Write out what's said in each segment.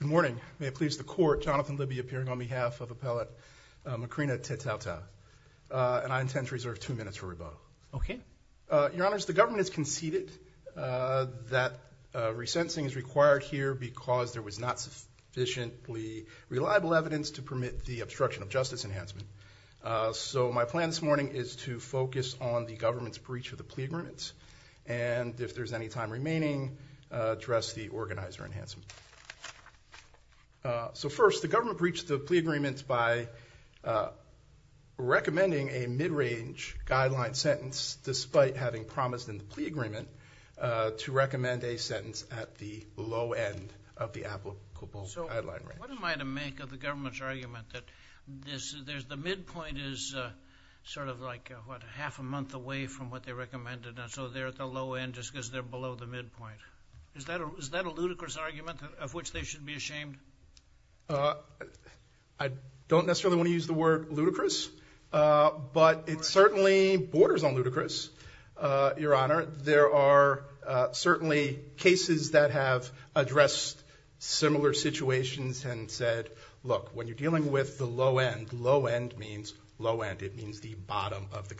Good morning. May it please the court, Jonathan Libby appearing on behalf of Appellate Macrina Tedtaotao, and I intend to reserve two minutes for rebuttal. Okay. Your Honors, the government has conceded that resensing is required here because there was not sufficiently reliable evidence to permit the obstruction of justice enhancement. So my plan this morning is to focus on the government's breach of the plea agreements, and if there's any time remaining, address the organizer enhancement. So first, the government breached the plea agreements by recommending a mid-range guideline sentence despite having promised in the plea agreement to recommend a sentence at the low end of the applicable guideline range. So what am I to make of the government's argument that the midpoint is sort of like half a month away from what they recommended, and so they're at the low end just because they're below the midpoint? Is that a ludicrous argument of which they should be ashamed? I don't necessarily want to use the word ludicrous, but it certainly borders on ludicrous, Your Honor. There are certainly cases that have addressed similar situations and said, look, when you're dealing with the low end, low end means low end. It means the bottom of the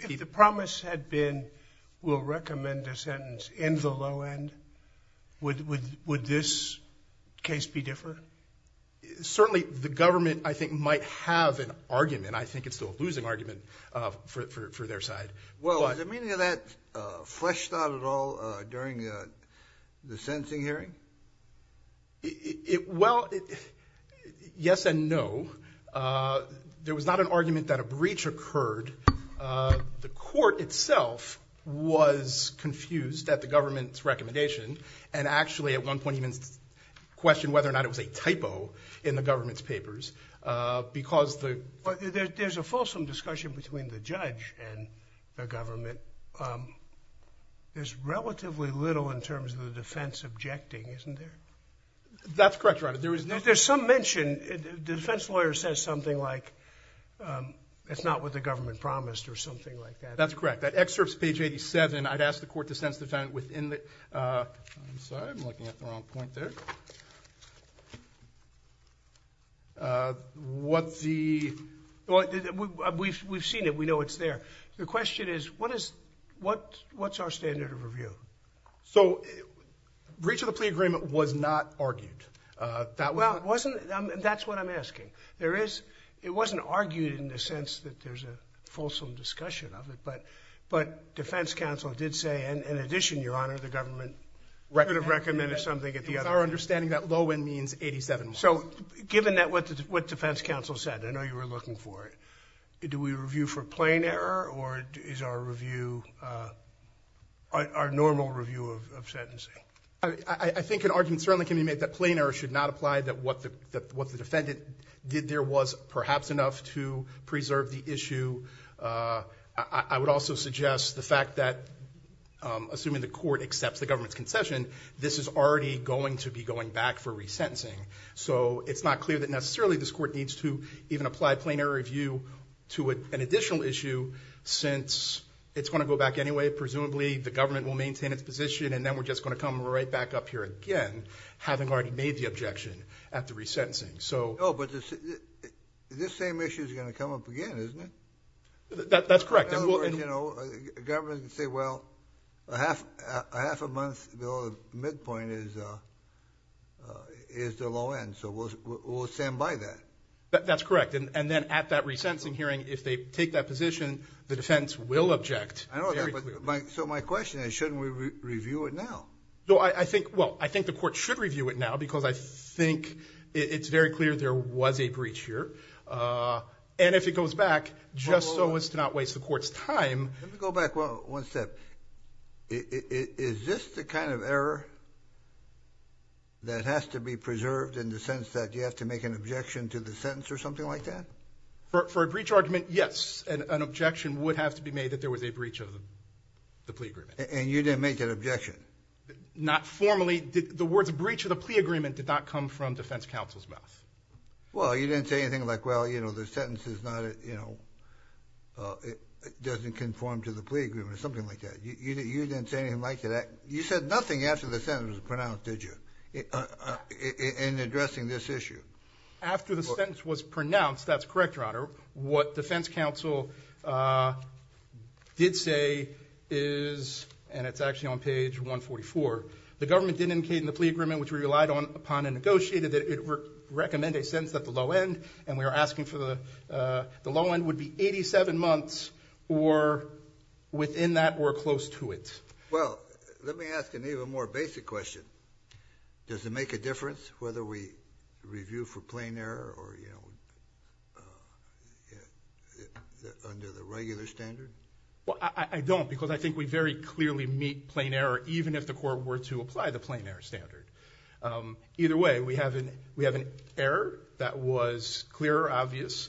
If the promise had been, we'll recommend a sentence in the low end, would this case be different? Certainly, the government, I think, might have an argument. I think it's the losing argument for their side. Well, is the meaning of that fleshed out at all during the sentencing hearing? Well, yes and no. There was not an argument that a breach occurred. The court itself was confused at the government's recommendation, and actually at one point even questioned whether or not it was a typo in the government's papers. There's a fulsome discussion between the judge and the government. There's relatively little in terms of the defense objecting, isn't there? That's correct, Your Honor. There is not. There's some mention. The defense lawyer says something like it's not what the government promised or something like that. That's correct. That excerpt is page 87. I'd ask the court to sentence the defendant within the – I'm sorry. I'm looking at the wrong point there. What the – we've seen it. We know it's there. The question is what is – what's our standard of review? So, breach of the plea agreement was not argued. That was not – Well, it wasn't – and that's what I'm asking. There is – it wasn't argued in the sense that there's a fulsome discussion of it, but defense counsel did say, in addition, Your Honor, the government could have recommended something at the other end. With our understanding, that low end means 87 marks. So given that – what defense counsel said, I know you were looking for it. Do we review for plain error or is our review – our normal review of sentencing? I think an argument certainly can be made that plain error should not apply, that what the defendant did there was perhaps enough to preserve the issue. I would also suggest the fact that, assuming the court accepts the government's concession, this is already going to be going back for resentencing. So it's not clear that necessarily this court needs to even apply plain error review to an additional issue, since it's going to go back anyway. Presumably the government will maintain its position, and then we're just going to come right back up here again, having already made the objection at the resentencing. So – No, but this same issue is going to come up again, isn't it? That's correct. In other words, you know, the government can say, well, a half a month below the midpoint is the low end, so we'll stand by that. That's correct. And then at that resentencing hearing, if they take that position, the defense will object. I know that, but my – so my question is, shouldn't we review it now? No, I think – well, I think the court should review it now, because I think it's very clear there was a breach here. And if it goes back, just so as to not waste the court's time – Let me go back one step. Is this the kind of error that has to be preserved in the sense that you have to make an objection to the sentence or something like that? For a breach argument, yes. An objection would have to be made that there was a breach of the plea agreement. And you didn't make that objection? Not formally. The words breach of the plea agreement did not come from defense counsel's mouth. Well, you didn't say anything like, well, you know, the sentence is not – it doesn't conform to the plea agreement or something like that. You didn't say anything like that. You said nothing after the sentence was pronounced, did you, in addressing this issue? After the sentence was pronounced, that's correct, Your Honor. What defense counsel did say is – and it's actually on page 144 – the government didn't indicate in amended sentence at the low end, and we are asking for the – the low end would be 87 months, or within that, or close to it. Well, let me ask an even more basic question. Does it make a difference whether we review for plain error or, you know, under the regular standard? Well, I don't, because I think we very clearly meet plain error, even if the court were to that was clear or obvious.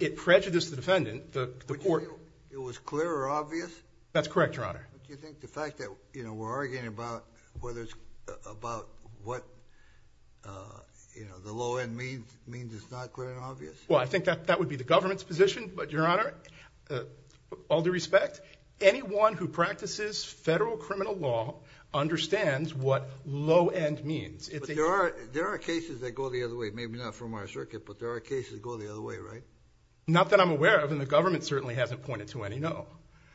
It prejudiced the defendant, the court – It was clear or obvious? That's correct, Your Honor. Do you think the fact that, you know, we're arguing about whether it's – about what, you know, the low end means is not clear and obvious? Well, I think that would be the government's position, but, Your Honor, all due respect, anyone who practices federal criminal law understands what low end means. But there are cases that go the other way, maybe not from our circuit, but there are cases that go the other way, right? Not that I'm aware of, and the government certainly hasn't pointed to any, no.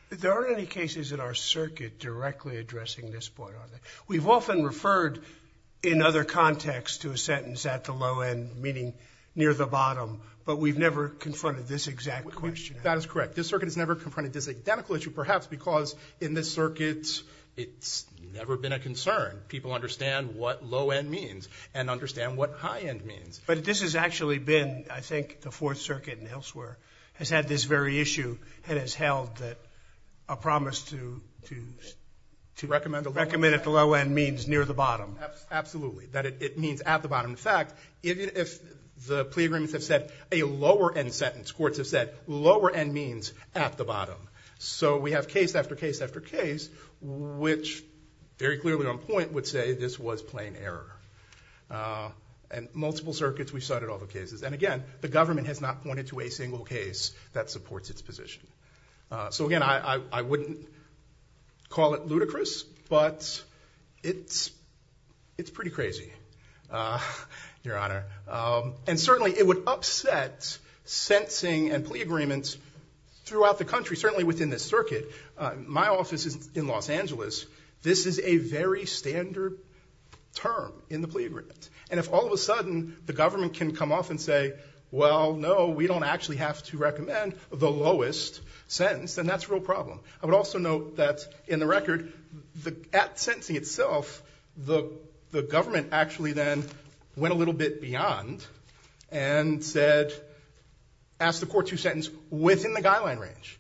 There aren't any cases in our circuit directly addressing this point, are there? We've often referred in other contexts to a sentence at the low end, meaning near the bottom, but we've never confronted this exact question. That is correct. This circuit has never confronted this identical issue, perhaps because in this means and understand what high end means. But this has actually been, I think, the Fourth Circuit and elsewhere has had this very issue and has held that a promise to – Recommend the low end? Recommend if the low end means near the bottom. Absolutely, that it means at the bottom. In fact, if the plea agreements have said a lower end sentence, courts have said lower end means at the bottom. So we have case after case after case, which very clearly on point would say this was plain error. And multiple circuits, we've cited all the cases. And again, the government has not pointed to a single case that supports its position. So again, I wouldn't call it ludicrous, but it's pretty crazy, Your Honor. And certainly it would upset sentencing and plea agreements throughout the country, certainly within this circuit. My office is in Los Angeles. This is a very standard term in the plea agreements. And if all of a sudden the government can come off and say, well, no, we don't actually have to recommend the lowest sentence, then that's a real problem. I would also note that in the record, at sentencing itself, the government actually then went a little bit beyond and said, asked the court to sentence within the guideline range,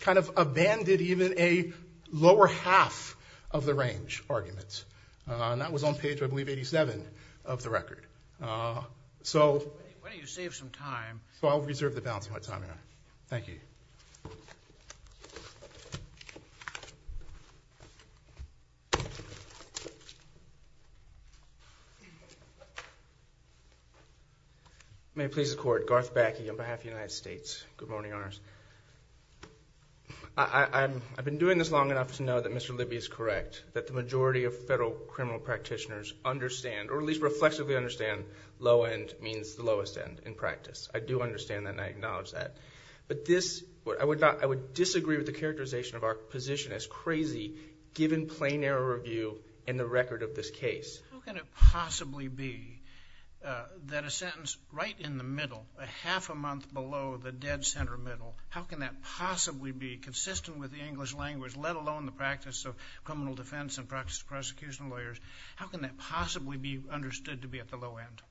kind of abandoned even a lower half of the range arguments. And that was on page, I believe, 87 of the record. So why don't you save some time? So I'll reserve the balance of my time, Your Honor. Thank you. May it please the Court. Garth Backey on behalf of the United States. Good morning, Your Honors. I've been doing this long enough to know that Mr. Libby is correct, that the majority of federal criminal practitioners understand, or at least reflexively understand, low end means the lowest end in practice. I do understand that and I acknowledge that. But this, I would disagree with the characterization of our position as crazy, given plain error review in the record of this case. How can it possibly be that a sentence right in the middle, a half a month below the dead center middle, how can that possibly be consistent with the English language, let alone the practice of criminal defense and practice of prosecution of lawyers? How can that possibly be understood to be at the low end?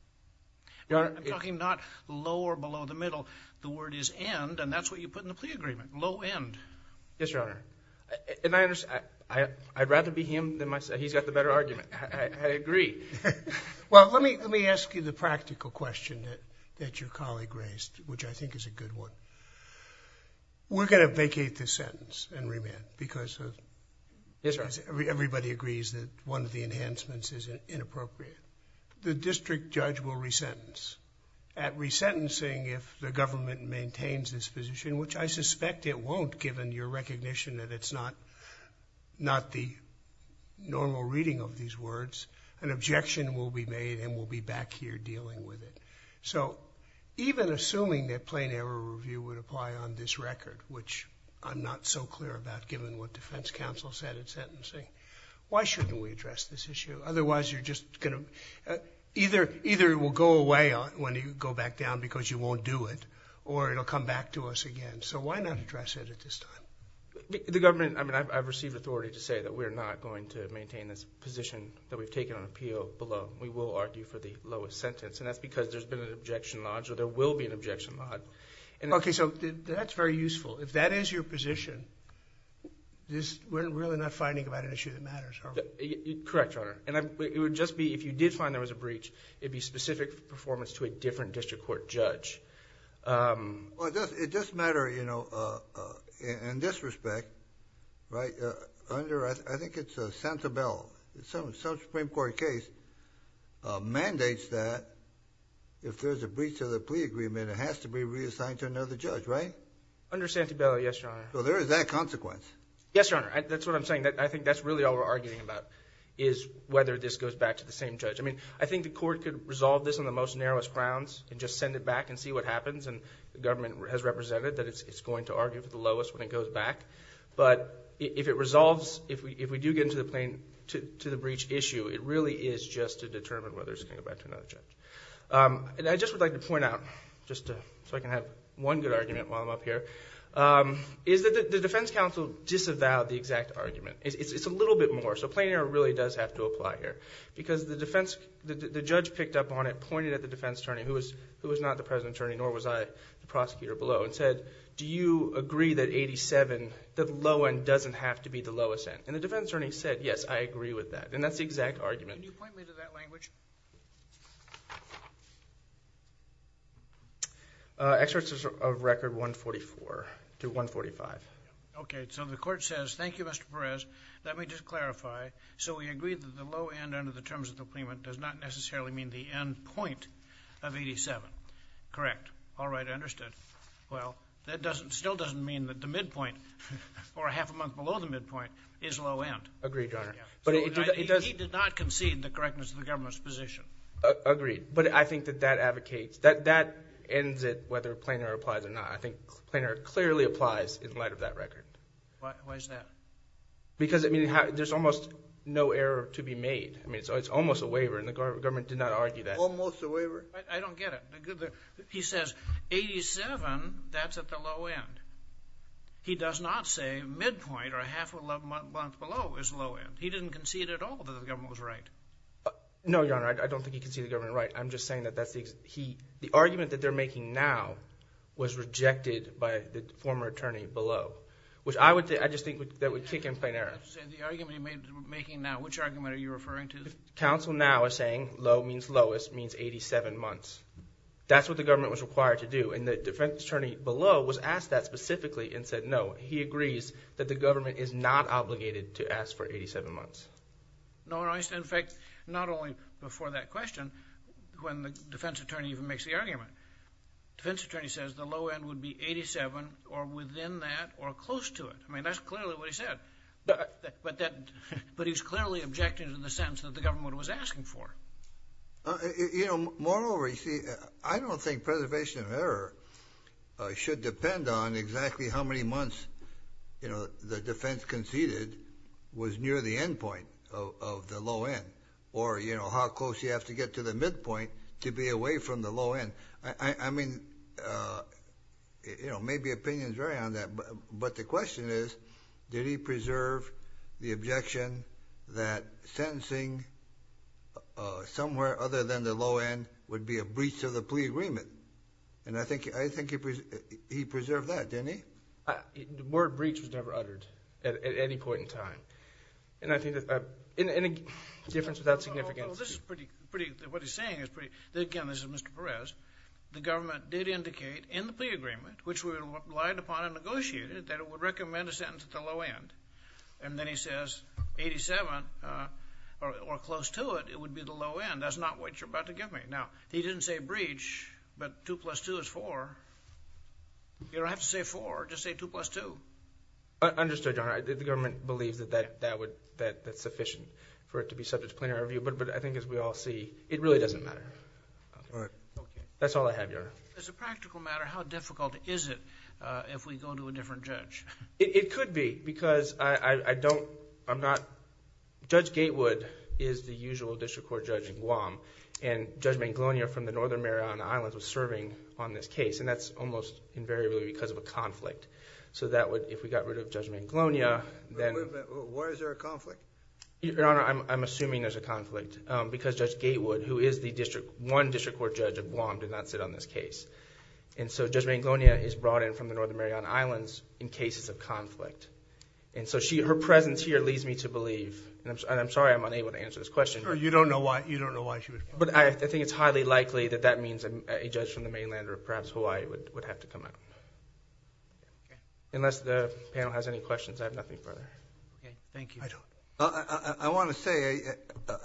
Your Honor, I'm talking not low or below the middle. The word is end and that's what you put in the plea agreement, low end. Yes, Your Honor. I'd rather be him than myself. He's got the better argument. I agree. Well, let me ask you the practical question that your colleague raised, which I think is a good one. We're going to vacate this sentence and remand because everybody agrees that one of the enhancements is inappropriate. The district judge will resentence. At resentencing, if the government maintains this position, which I suspect it won't given your recognition that it's not the normal reading of these words, an objection will be made and we'll be back here dealing with it. So even assuming that plain error review would apply on this record, which I'm not so clear about given what defense counsel said at sentencing, why shouldn't we address this issue? Otherwise, you're just going to either it will go away when you go back down because you won't do it or it'll come back to us again. So why not address it at this time? The government, I mean, I've received authority to say that we're not going to maintain this position that we've taken on appeal below. We will argue for the lowest sentence and that's because there's been an objection lodged or there will be an objection lodged. Okay, so that's very useful. If that is your position, we're really not fighting about an issue that matters, are we? Correct, Your Honor. It would just be if you did find there was a breach, it'd be specific performance to a different district court judge. Well, it does matter, you know, in this respect, right? Under, I think it's Santabella. Some Supreme Court case mandates that if there's a breach of the plea agreement, it has to be reassigned to another judge, right? Under Santabella, yes, Your Honor. So there is that consequence. Yes, Your Honor. That's what I'm saying. I think that's really all we're arguing about is whether this goes back to the same judge. I mean, I think the court could resolve this on the most narrowest grounds and just send it back and see what happens and the government has represented that it's going to argue for the lowest when it goes back. But if it resolves, if we do get into the breach issue, it really is just to determine whether it's going to go back to another judge. And I just would like to point out, just so I can have one good argument while I'm up here, is that the defense counsel disavowed the exact argument. It's a little bit more. So plain error really does have to apply here because the defense, the judge picked up on it, pointed at the defense attorney, who was not the president's attorney, nor was I the prosecutor below, and said, do you agree that 87, the low end, doesn't have to be the lowest end? And the defense attorney said, yes, I agree with that. And that's the exact argument. Can you point me to that language? Excerpts of Record 144 to 145. Okay. So the court says, thank you, Mr. Perez. Let me just clarify. So we agree that the low end point of 87, correct. All right. I understood. Well, that still doesn't mean that the midpoint, or half a month below the midpoint, is low end. Agreed, Your Honor. He did not concede the correctness of the government's position. Agreed. But I think that that advocates, that ends it, whether plain error applies or not. I think plain error clearly applies in light of that record. Why is that? Because I mean, there's almost no error to be made. I mean, it's almost a waiver, and the government did not argue that. Almost a waiver. I don't get it. He says 87, that's at the low end. He does not say midpoint, or half a month below, is low end. He didn't concede at all that the government was right. No, Your Honor. I don't think he conceded the government was right. I'm just saying that that's the, he, the argument that they're making now was rejected by the former attorney below. Which I would, I just think that would kick in plain error. You're saying the argument he's making now, which argument are you referring to? Counsel now is saying low means lowest, means 87 months. That's what the government was required to do. And the defense attorney below was asked that specifically and said no. He agrees that the government is not obligated to ask for 87 months. No, Your Honor. In fact, not only before that question, when the defense attorney even makes the argument, defense attorney says the low end would be 87, or within that, or close to it. I mean, that's clearly what he said. But that, but he's clearly objecting to the government was asking for. You know, moreover, you see, I don't think preservation of error should depend on exactly how many months, you know, the defense conceded was near the endpoint of the low end. Or, you know, how close you have to get to the midpoint to be away from the low end. I mean, you know, maybe opinions vary on that. But the question is, did he preserve the objection that sentencing somewhere other than the low end would be a breach of the plea agreement? And I think, I think he preserved that, didn't he? The word breach was never uttered at any point in time. And I think that, in any difference without significance. Well, this is pretty, pretty, what he's saying is pretty, again, this is Mr. Perez. The government did indicate in the plea agreement, which we relied upon and negotiated, that it would be 87 or close to it, it would be the low end. That's not what you're about to give me. Now, he didn't say breach, but 2 plus 2 is 4. You don't have to say 4, just say 2 plus 2. Understood, Your Honor. The government believes that that would, that's sufficient for it to be subject to plenary review. But I think as we all see, it really doesn't matter. That's all I have, Your Honor. As a practical matter, how difficult is it if we go to a different judge? It could be, because I, I don't, I'm not, Judge Gatewood is the usual district court judge in Guam. And Judge Manglonia from the Northern Mariana Islands was serving on this case. And that's almost invariably because of a conflict. So that would, if we got rid of Judge Manglonia, then... Wait a minute, why is there a conflict? Your Honor, I'm assuming there's a conflict. Because Judge Gatewood, who is the district, one district court judge of Guam, did not sit on this case. And so Judge Manglonia is brought in from the Northern Mariana Islands in cases of conflict. And so she, her presence here leads me to believe, and I'm sorry I'm unable to answer this question. You don't know why, you don't know why she was brought in. But I think it's highly likely that that means a judge from the mainland or perhaps Hawaii would have to come out. Unless the panel has any questions, I have nothing further. Thank you. I want to say,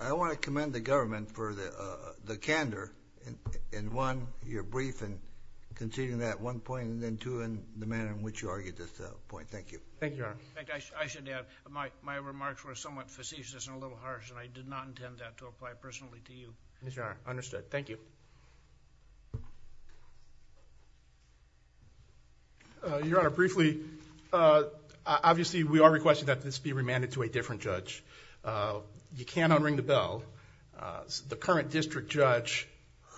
I want to commend the government for the candor in one, your briefing, conceding that one point, and then two, in the manner in which you argued this point. Thank you. Thank you, Your Honor. In fact, I should add, my remarks were somewhat facetious and a little harsh, and I did not intend that to apply personally to you. Yes, Your Honor. Understood. Thank you. Your Honor, briefly, obviously we are requesting that this be remanded to a different judge. You can't unring the bell. The current district judge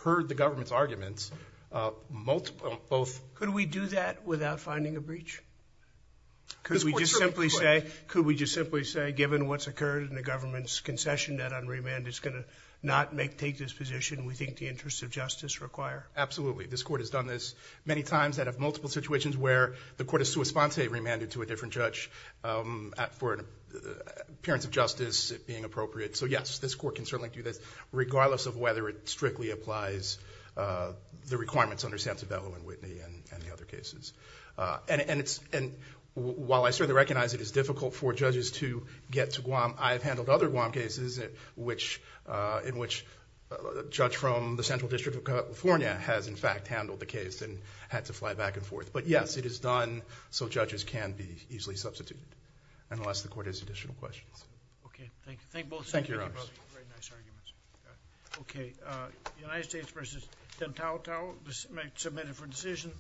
heard the government's arguments, both Could we do that without finding a breach? Could we just simply say, given what's occurred in the government's concession that unremanded is going to not take this position we think the interests of justice require? Absolutely. This court has done this many times. They have multiple situations where the court has sua sponsa remanded to a different judge for appearance of justice being appropriate. So yes, this court can certainly do this regardless of whether it strictly applies the requirements under Santabello and Whitney and the other cases. While I certainly recognize it is difficult for judges to get to Guam, I have handled other Guam cases in which a judge from the Central District of California has in fact handled the case and had to fly back and forth. But yes, it is done so judges can be easily substituted, unless the court has additional questions. Okay. Thank you. Thank you both. Thank you, Your Honors. Very nice arguments. United States v. Tentautau. Submitted for decision.